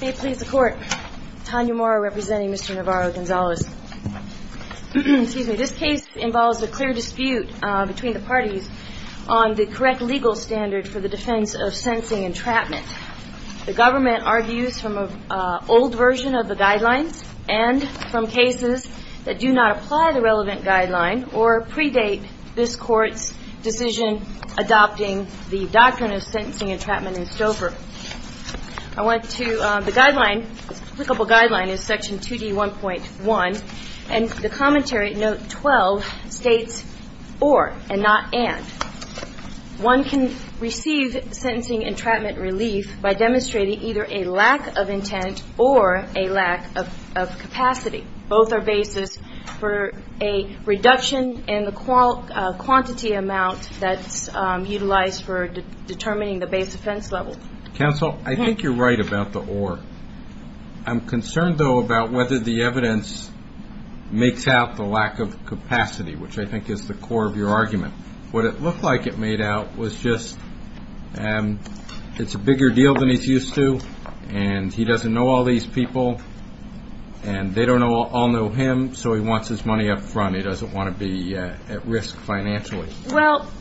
This case involves a clear dispute between the parties on the correct legal standard for the defense of sentencing entrapment. The government argues from an old version of the guidelines and from cases that do not apply the relevant guideline or predate this court's decision adopting the doctrine of sentencing entrapment in Stouffer. I want to, the guideline, applicable guideline is section 2D1.1 and the commentary note 12 states or and not and. One can receive sentencing entrapment relief by demonstrating either a lack of intent or a lack of capacity. Both are basis for a reduction in the quantity amount that's utilized for determining the base defense level. Judge Goldberg Counsel, I think you're right about the or. I'm concerned, though, about whether the evidence makes out the lack of capacity, which I think is the core of your argument. What it looked like it made out was just it's a and he doesn't know all these people and they don't all know him, so he wants his money up front. He doesn't want to be at risk financially.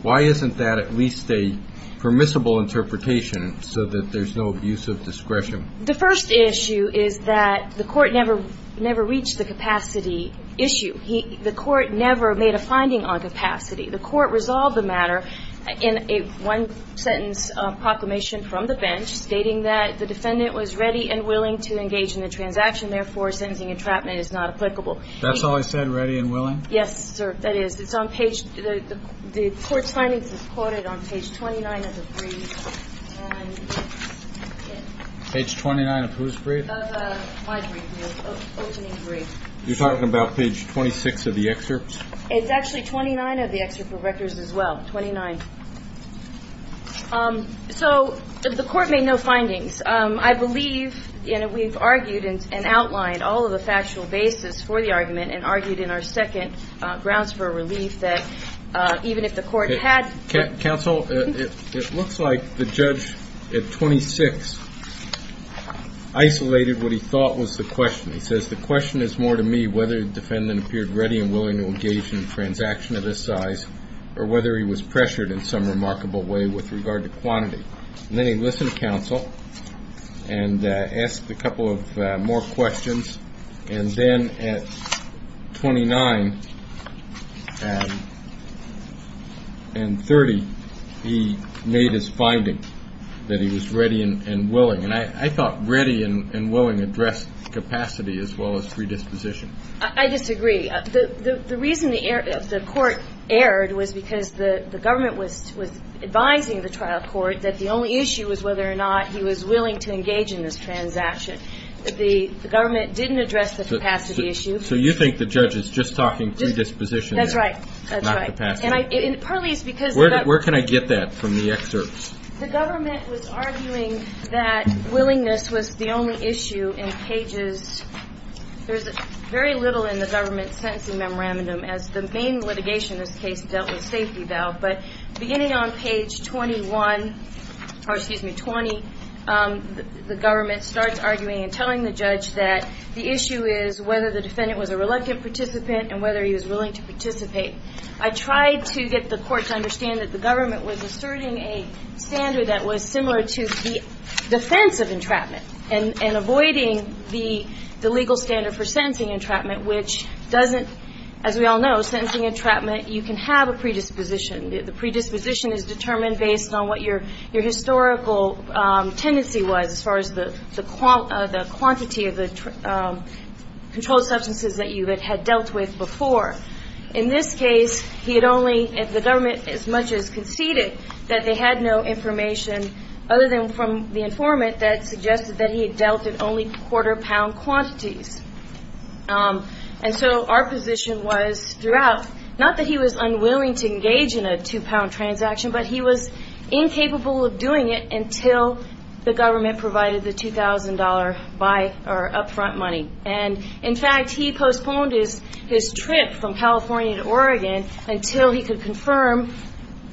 Why isn't that at least a permissible interpretation so that there's no use of discretion? The first issue is that the court never reached the capacity issue. The court never made a finding on capacity. The court resolved the matter in a one-sentence proclamation from the defendant was ready and willing to engage in the transaction. Therefore, sentencing entrapment is not applicable. That's all I said, ready and willing? Yes, sir. That is. It's on page. The court's findings is quoted on page 29 of the brief. Page 29 of whose brief? Of my brief, the opening brief. You're talking about page 26 of the excerpt? It's actually 29 of the excerpt of records as well. Twenty-nine. So the court made no findings. I believe we've argued and outlined all of the factual basis for the argument and argued in our second grounds for relief that even if the court had... Counsel, it looks like the judge at 26 isolated what he thought was the question. He says the question is more to me whether the defendant appeared ready and willing to engage in a in some remarkable way with regard to quantity. And then he listened to counsel and asked a couple of more questions. And then at 29 and 30, he made his finding that he was ready and willing. And I thought ready and willing addressed capacity as well as predisposition. I disagree. The reason the court erred was because the government was advising the trial court that the only issue was whether or not he was willing to engage in this transaction. The government didn't address the capacity issue. So you think the judge is just talking predisposition there? That's right. That's right. Not capacity. And partly it's because... Where can I get that from the excerpt? The government was arguing that willingness was the only issue in pages... There's very little in the government sentencing memorandum as the main litigation in this case dealt with safety valve. But beginning on page 21, or excuse me, 20, the government starts arguing and telling the judge that the issue is whether the defendant was a reluctant participant and whether he was willing to participate. I tried to get the court to understand that the government was asserting a standard that was similar to the defense of entrapment and avoiding the legal standard for sentencing entrapment, which doesn't, as we all know, sentencing entrapment, you can have a predisposition. The predisposition is determined based on what your historical tendency was as far as the quantity of the controlled substances that you had dealt with before. In this case, he had only, the government as much as conceded that they had no information other than from the informant that suggested that he had dealt in only quarter pound quantities. And so our position was throughout, not that he was unwilling to engage in a two pound transaction, but he was incapable of doing it until the government provided the $2,000 up front money. And in fact, he postponed his trip from California to Oregon until he could confirm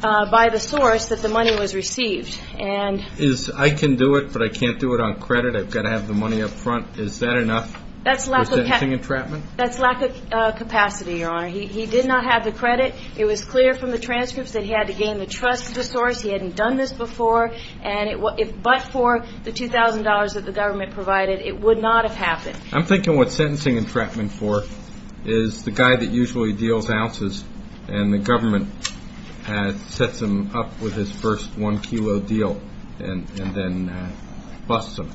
by the source that the money was received. I can do it, but I can't do it on credit. I've got to have the money up front. Is that enough for sentencing entrapment? That's lack of capacity, Your Honor. He did not have the credit. It was clear from the transcripts that he had to gain the trust of the source. He hadn't done this before. But for the $2,000 that the government provided, it would not have happened. I'm thinking what sentencing entrapment for is the guy that usually deals ounces and the government sets him up with his first one kilo deal and then busts him.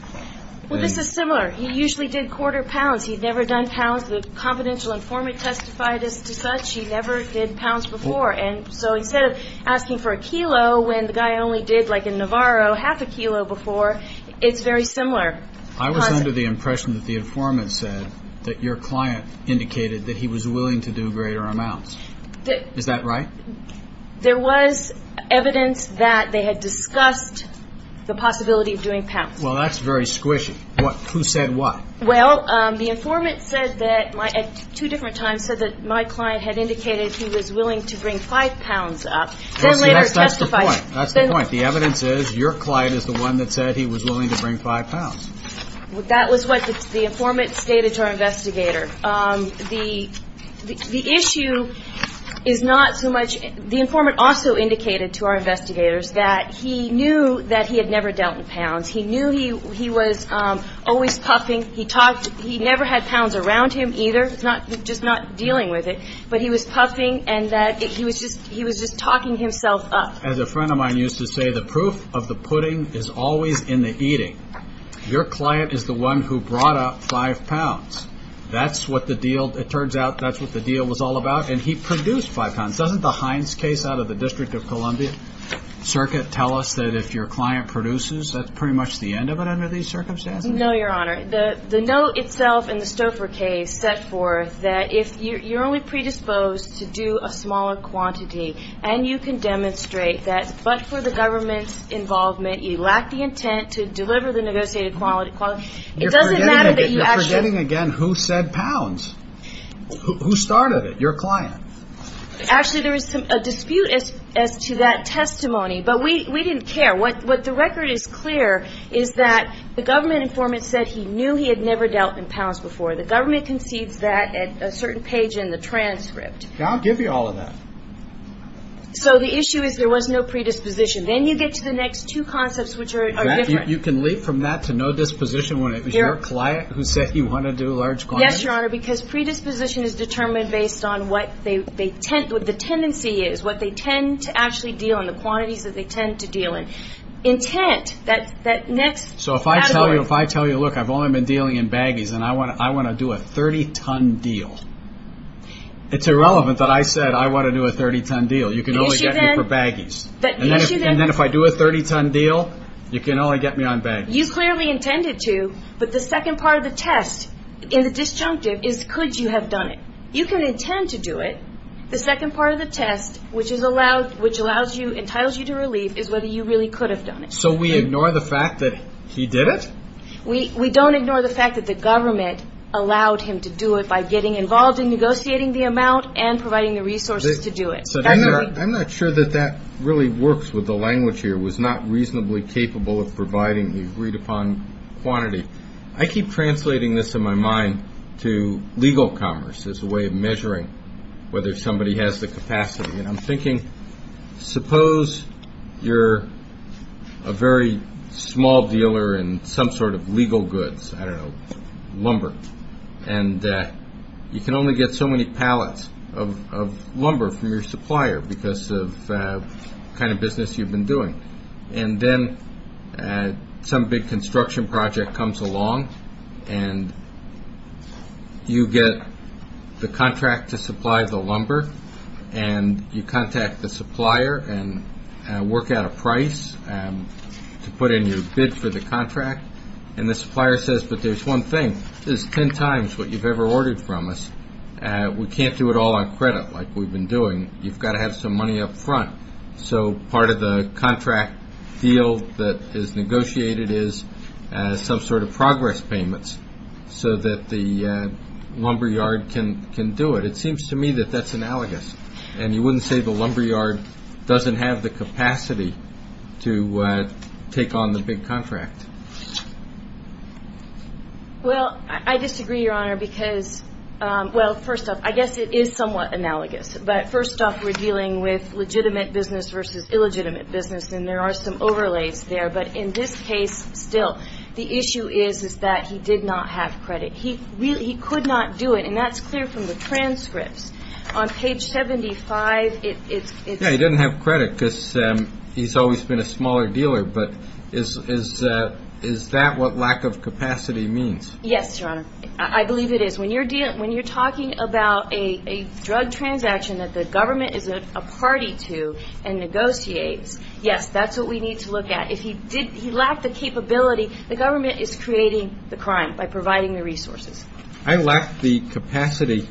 Well, this is similar. He usually did quarter pounds. He'd never done pounds. The confidential informant testified as to such. He never did pounds before. And so instead of asking for a kilo when the guy only did, like in Navarro, half a kilo before, it's very similar. I was under the impression that the informant said that your client indicated that he was willing to do greater amounts. Is that right? There was evidence that they had discussed the possibility of doing pounds. Well, that's very squishy. Who said what? Well, the informant said that at two different times said that my client had indicated he was willing to bring five pounds up. That's the point. The evidence is your client is the one that said he was willing to bring five pounds. That was what the informant stated to our investigator. The issue is not so much – the informant also indicated to our investigators that he knew that he had never dealt in pounds. He knew he was always puffing. He talked – he never had pounds around him either, just not dealing with it. But he was puffing and that he was just – he was just talking himself up. As a friend of mine used to say, the proof of the pudding is always in the eating. Your client is the one who brought up five pounds. That's what the deal – it turns out that's what the deal was all about. And he produced five pounds. Doesn't the Hines case out of the District of Columbia Circuit tell us that if your client produces, that's pretty much the end of it under these circumstances? No, Your Honor. The note itself in the Stouffer case set forth that if you're only predisposed to do a smaller quantity and you can demonstrate that, but for the government's involvement, you lack the intent to deliver the negotiated – it doesn't matter that you actually – You're forgetting again who said pounds. Who started it? Your client. Actually, there was a dispute as to that testimony. But we didn't care. What the record is clear is that the government informant said he knew he had never dealt in pounds before. The government concedes that at a certain page in the transcript. I'll give you all of that. So the issue is there was no predisposition. Then you get to the next two concepts, which are different. You can leap from that to no disposition when it was your client who said he wanted to do large quantities? Yes, Your Honor, because predisposition is determined based on what they tend – what the tendency is, what they If I tell you, look, I've only been dealing in baggies and I want to do a 30-ton deal, it's irrelevant that I said I want to do a 30-ton deal. You can only get me for baggies. And then if I do a 30-ton deal, you can only get me on baggies. You clearly intended to, but the second part of the test in the disjunctive is could you have done it. You can intend to do it. The second part of the test, which allows you – entitles you to relief is whether you really could have done it. So we ignore the fact that he did it? We don't ignore the fact that the government allowed him to do it by getting involved in negotiating the amount and providing the resources to do it. I'm not sure that that really works with the language here, was not reasonably capable of providing the agreed-upon quantity. I keep translating this in my mind to legal commerce as a way of measuring whether somebody has the capacity. I'm thinking suppose you're a very small dealer in some sort of legal goods, I don't know, lumber, and you can only get so many pallets of lumber from your supplier because of the kind of business you've been doing. Then some big construction project comes along, and you get the contract to supply the lumber, and you contact the supplier and work out a price to put in your bid for the contract. The supplier says, but there's one thing, this is 10 times what you've ever ordered from us. We can't do it all on credit like we've been doing. You've got to have some money up front. So part of the contract deal that is negotiated is some sort of progress payments so that the lumber yard can do it. It seems to me that that's analogous. And you wouldn't say the lumber yard doesn't have the capacity to take on the big contract. Well, I disagree, Your Honor, because, well, first off, I guess it is somewhat analogous. But first off, we're dealing with legitimate business versus illegitimate business, and there are some overlays there. But in this case, still, the issue is that he did not have credit. He could not do it, and that's clear from the transcripts. On page 75, it's – Yeah, he didn't have credit because he's always been a smaller dealer. But is that what lack of capacity means? Yes, Your Honor. I believe it is. When you're talking about a drug transaction that the government is a party to and negotiates, yes, that's what we need to look at. If he lacked the capability, the government is creating the crime by providing the resources. I lacked the capacity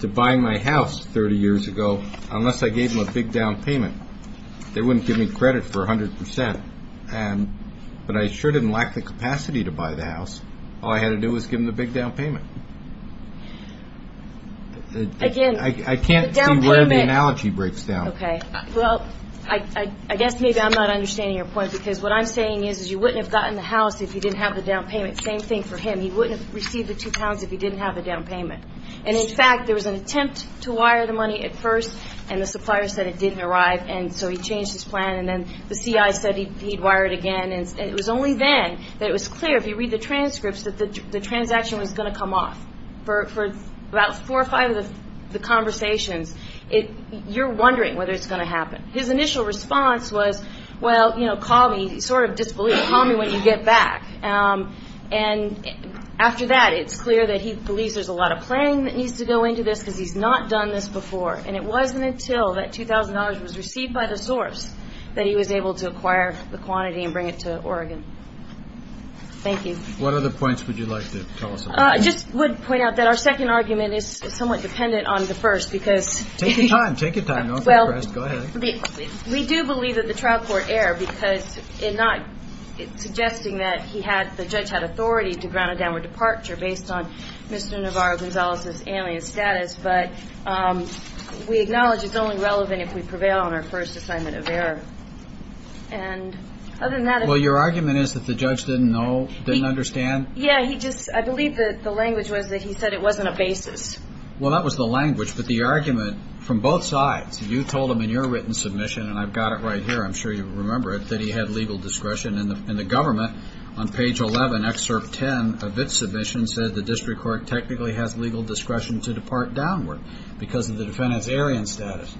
to buy my house 30 years ago unless I gave them a big down payment. They wouldn't give me credit for 100 percent. But I sure didn't lack the capacity to buy the house. All I had to do was give them the big down payment. Again, the down payment – I can't see where the analogy breaks down. Okay. Well, I guess maybe I'm not understanding your point because what I'm saying is you wouldn't have gotten the house if you didn't have the down payment. Same thing for him. He wouldn't have received the two pounds if he didn't have the down payment. And, in fact, there was an attempt to wire the money at first, and the supplier said it didn't arrive. And so he changed his plan, and then the C.I. said he'd wire it again. And it was only then that it was clear, if you read the transcripts, that the transaction was going to come off. For about four or five of the conversations, you're wondering whether it's going to happen. His initial response was, well, you know, call me. He sort of disbelieved. Call me when you get back. And after that, it's clear that he believes there's a lot of planning that needs to go into this because he's not done this before. And it wasn't until that $2,000 was received by the source that he was able to acquire the quantity and bring it to Oregon. Thank you. What other points would you like to tell us about? I just would point out that our second argument is somewhat dependent on the first because – Take your time. Take your time. Don't get depressed. Go ahead. We do believe that the trial court erred because in not suggesting that he had – based on Mr. Navarro-Gonzalez's AMIA status, but we acknowledge it's only relevant if we prevail on our first assignment of error. And other than that – Well, your argument is that the judge didn't know, didn't understand? Yeah, he just – I believe that the language was that he said it wasn't a basis. Well, that was the language, but the argument from both sides. You told him in your written submission, and I've got it right here, I'm sure you remember it, that he had legal discretion. And the government, on page 11, excerpt 10 of its submission, said the district court technically has legal discretion to depart downward because of the defendant's Aryan status.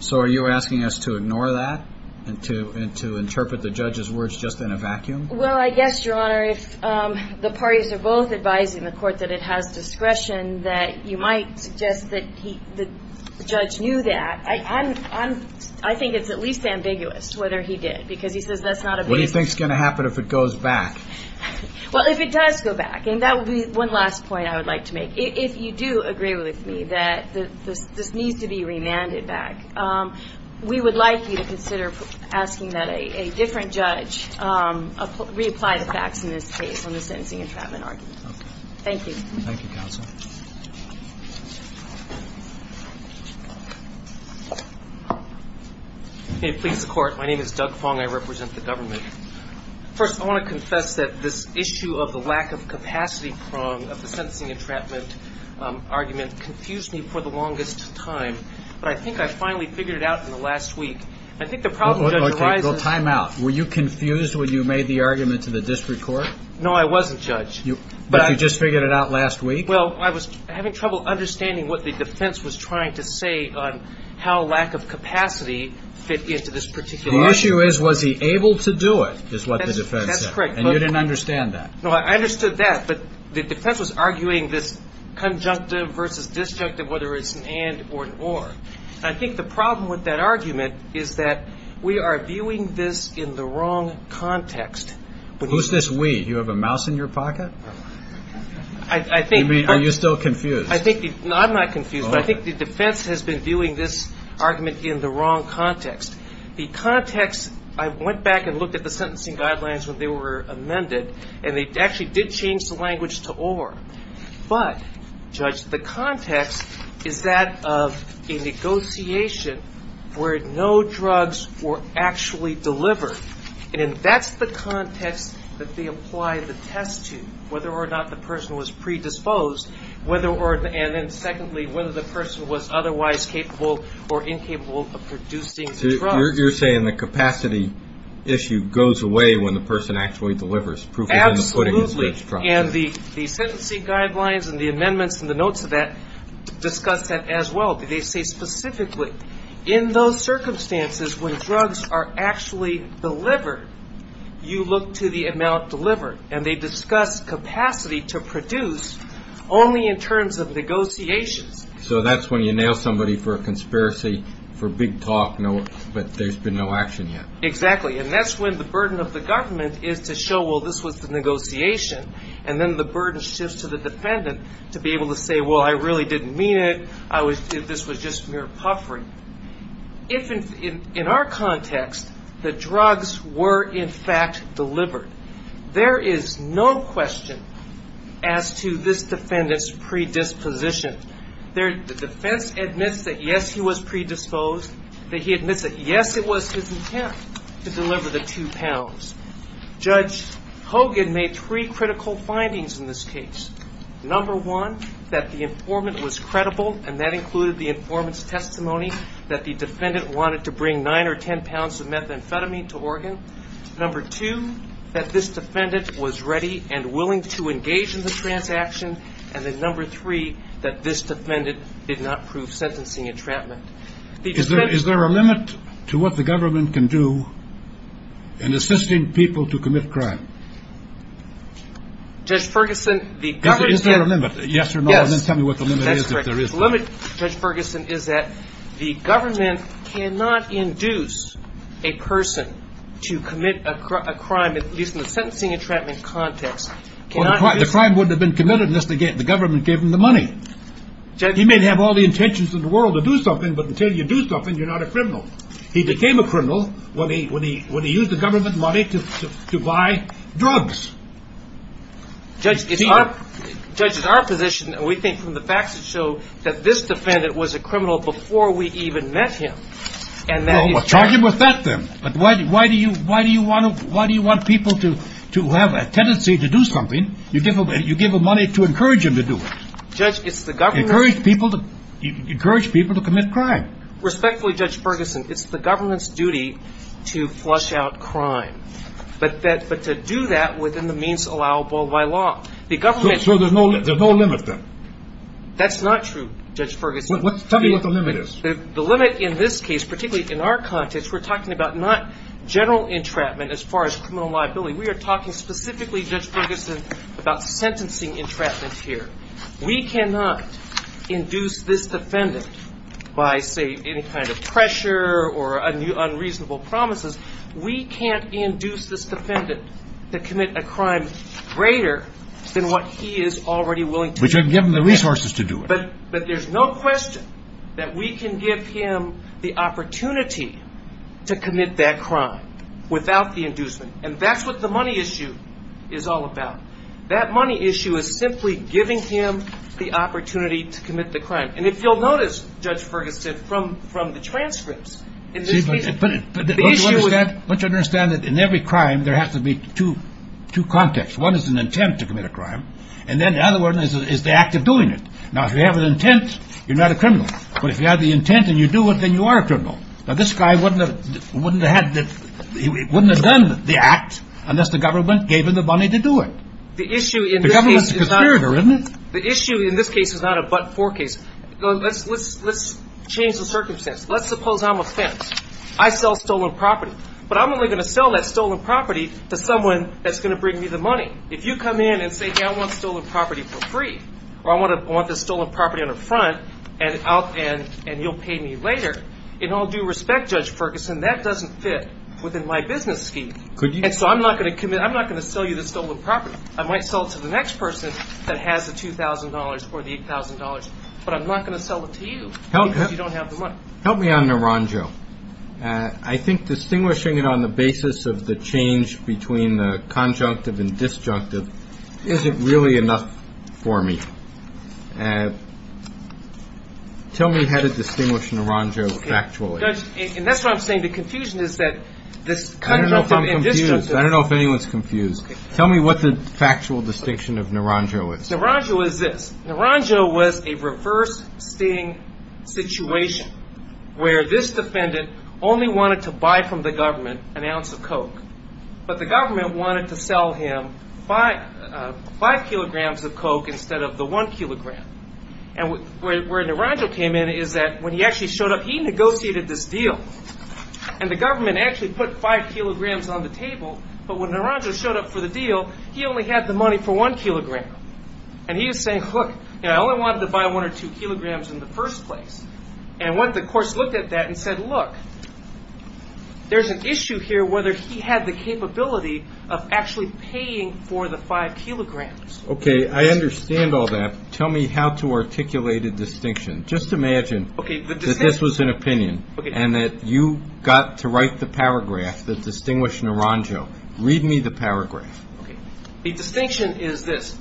So are you asking us to ignore that and to interpret the judge's words just in a vacuum? Well, I guess, Your Honor, if the parties are both advising the court that it has discretion, that you might suggest that the judge knew that. I think it's at least ambiguous whether he did because he says that's not a basis. What do you think is going to happen if it goes back? Well, if it does go back, and that would be one last point I would like to make. If you do agree with me that this needs to be remanded back, we would like you to consider asking that a different judge reapply the facts in this case on the sentencing entrapment argument. Okay. Thank you. Thank you, counsel. May it please the Court. My name is Doug Fong. I represent the government. First, I want to confess that this issue of the lack of capacity prong of the sentencing entrapment argument confused me for the longest time. But I think I finally figured it out in the last week. I think the problem, Judge Reiser – Okay, time out. Were you confused when you made the argument to the district court? No, I wasn't, Judge. But you just figured it out last week? Well, I was having trouble understanding what the defense was trying to say on how lack of capacity fit into this particular argument. The issue is, was he able to do it, is what the defense said. That's correct. And you didn't understand that. No, I understood that. But the defense was arguing this conjunctive versus disjunctive, whether it's an and or an or. And I think the problem with that argument is that we are viewing this in the wrong context. Who's this we? Do you have a mouse in your pocket? Are you still confused? No, I'm not confused. But I think the defense has been viewing this argument in the wrong context. The context – I went back and looked at the sentencing guidelines when they were amended, and they actually did change the language to or. But, Judge, the context is that of a negotiation where no drugs were actually delivered. And that's the context that they apply the test to, whether or not the person was predisposed, and then, secondly, whether the person was otherwise capable or incapable of producing the drug. So you're saying the capacity issue goes away when the person actually delivers, proving that the pudding is rich. Absolutely. And the sentencing guidelines and the amendments and the notes of that discuss that as well. They say specifically in those circumstances when drugs are actually delivered, you look to the amount delivered. And they discuss capacity to produce only in terms of negotiations. So that's when you nail somebody for a conspiracy, for big talk, but there's been no action yet. Exactly. And that's when the burden of the government is to show, well, this was the negotiation, and then the burden shifts to the defendant to be able to say, well, I really didn't mean it. This was just mere puffery. In our context, the drugs were, in fact, delivered. There is no question as to this defendant's predisposition. The defense admits that, yes, he was predisposed, that he admits that, yes, it was his intent to deliver the two pounds. Judge Hogan made three critical findings in this case. Number one, that the informant was credible, and that included the informant's testimony that the defendant wanted to bring nine or ten pounds of methamphetamine to Oregon. Number two, that this defendant was ready and willing to engage in the transaction. And then number three, that this defendant did not prove sentencing entrapment. Is there a limit to what the government can do in assisting people to commit crime? Is there a limit? Yes or no, and then tell me what the limit is if there is one. The limit, Judge Ferguson, is that the government cannot induce a person to commit a crime, at least in the sentencing entrapment context. Well, the crime wouldn't have been committed unless the government gave him the money. He may have all the intentions in the world to do something, but until you do something, you're not a criminal. He became a criminal when he used the government money to buy drugs. Judge, it's our position, and we think from the facts that show, that this defendant was a criminal before we even met him. Well, charge him with that then. But why do you want people to have a tendency to do something? You give them money to encourage them to do it. Judge, it's the government. Encourage people to commit crime. Respectfully, Judge Ferguson, it's the government's duty to flush out crime, but to do that within the means allowable by law. So there's no limit then? That's not true, Judge Ferguson. Tell me what the limit is. The limit in this case, particularly in our context, we're talking about not general entrapment as far as criminal liability. We are talking specifically, Judge Ferguson, about sentencing entrapment here. We cannot induce this defendant by, say, any kind of pressure or unreasonable promises. We can't induce this defendant to commit a crime greater than what he is already willing to do. But you can give him the resources to do it. But there's no question that we can give him the opportunity to commit that crime without the inducement, and that's what the money issue is all about. That money issue is simply giving him the opportunity to commit the crime. And if you'll notice, Judge Ferguson, from the transcripts, in this case, the issue is... But you understand that in every crime there has to be two contexts. One is an intent to commit a crime, and then the other one is the act of doing it. Now, if you have an intent, you're not a criminal. But if you have the intent and you do it, then you are a criminal. Now, this guy wouldn't have done the act unless the government gave him the money to do it. The government's a conspirator, isn't it? The issue in this case is not a but-for case. Let's change the circumstance. Let's suppose I'm a fence. I sell stolen property. But I'm only going to sell that stolen property to someone that's going to bring me the money. If you come in and say, hey, I want stolen property for free, or I want the stolen property on the front and you'll pay me later, in all due respect, Judge Ferguson, that doesn't fit within my business scheme. And so I'm not going to sell you the stolen property. I might sell it to the next person that has the $2,000 or the $8,000, but I'm not going to sell it to you because you don't have the money. Help me on Naranjo. I think distinguishing it on the basis of the change between the conjunctive and disjunctive isn't really enough for me. Tell me how to distinguish Naranjo factually. And that's what I'm saying. The confusion is that this conjunctive and disjunctive. I don't know if anyone's confused. Tell me what the factual distinction of Naranjo is. Naranjo is this. wanted to buy from the government an ounce of Coke. But the government wanted to sell him five kilograms of Coke instead of the one kilogram. And where Naranjo came in is that when he actually showed up, he negotiated this deal. And the government actually put five kilograms on the table. But when Naranjo showed up for the deal, he only had the money for one kilogram. And he was saying, look, I only wanted to buy one or two kilograms in the first place. And the courts looked at that and said, look, there's an issue here whether he had the capability of actually paying for the five kilograms. OK, I understand all that. Tell me how to articulate a distinction. Just imagine that this was an opinion and that you got to write the paragraph that distinguished Naranjo. Read me the paragraph. The distinction is this.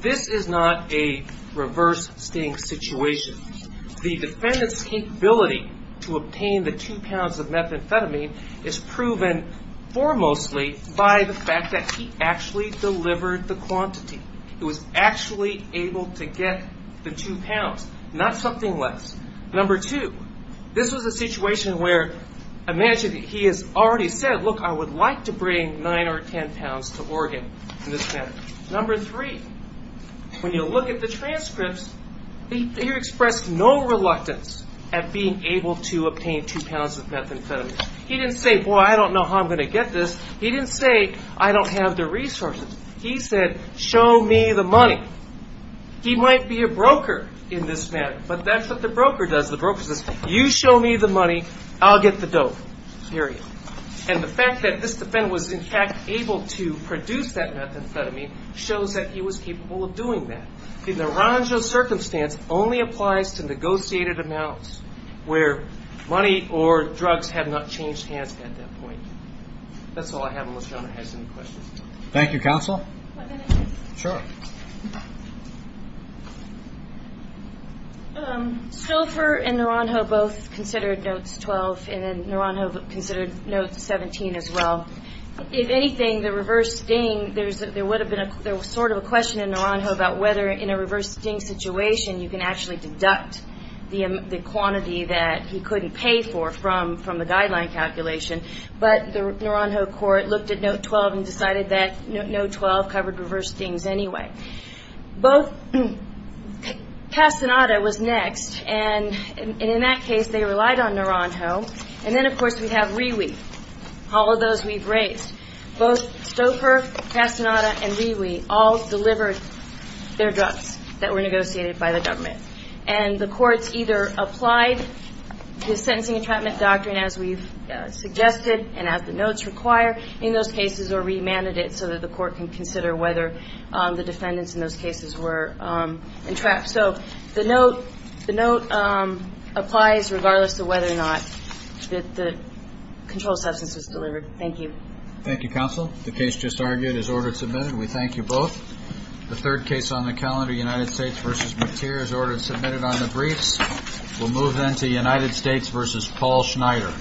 This is not a reverse sting situation. The defendant's capability to obtain the two pounds of methamphetamine is proven foremostly by the fact that he actually delivered the quantity. He was actually able to get the two pounds, not something less. Number two, this was a situation where imagine that he has already said, look, I would like to bring nine or ten pounds to Oregon in this manner. Number three, when you look at the transcripts, he expressed no reluctance at being able to obtain two pounds of methamphetamine. He didn't say, boy, I don't know how I'm going to get this. He didn't say, I don't have the resources. He said, show me the money. He might be a broker in this manner, but that's what the broker does. The broker says, you show me the money, I'll get the dope, period. And the fact that this defendant was, in fact, able to produce that methamphetamine shows that he was capable of doing that. The Naranjo circumstance only applies to negotiated amounts where money or drugs have not changed hands at that point. That's all I have unless John has any questions. Thank you, Counsel. One minute. Sure. Schoelfer and Naranjo both considered notes 12, and then Naranjo considered notes 17 as well. If anything, the reverse sting, there was sort of a question in Naranjo about whether in a reverse sting situation, you can actually deduct the quantity that he couldn't pay for from the guideline calculation. But the Naranjo court looked at note 12 and decided that note 12 covered reverse stings anyway. Both Castaneda was next, and in that case, they relied on Naranjo. And then, of course, we have Rewe, all of those we've raised. Both Schoelfer, Castaneda, and Rewe all delivered their drugs that were negotiated by the government. And the courts either applied the sentencing and treatment doctrine as we've suggested and as the notes require in those cases or remanded it so that the court can consider whether the defendants in those cases were entrapped. So the note applies regardless of whether or not the controlled substance was delivered. Thank you. Thank you, Counsel. The case just argued is order submitted. We thank you both. The third case on the calendar, United States v. McTeer, is order submitted on the briefs. We'll move then to United States v. Paul Schneider.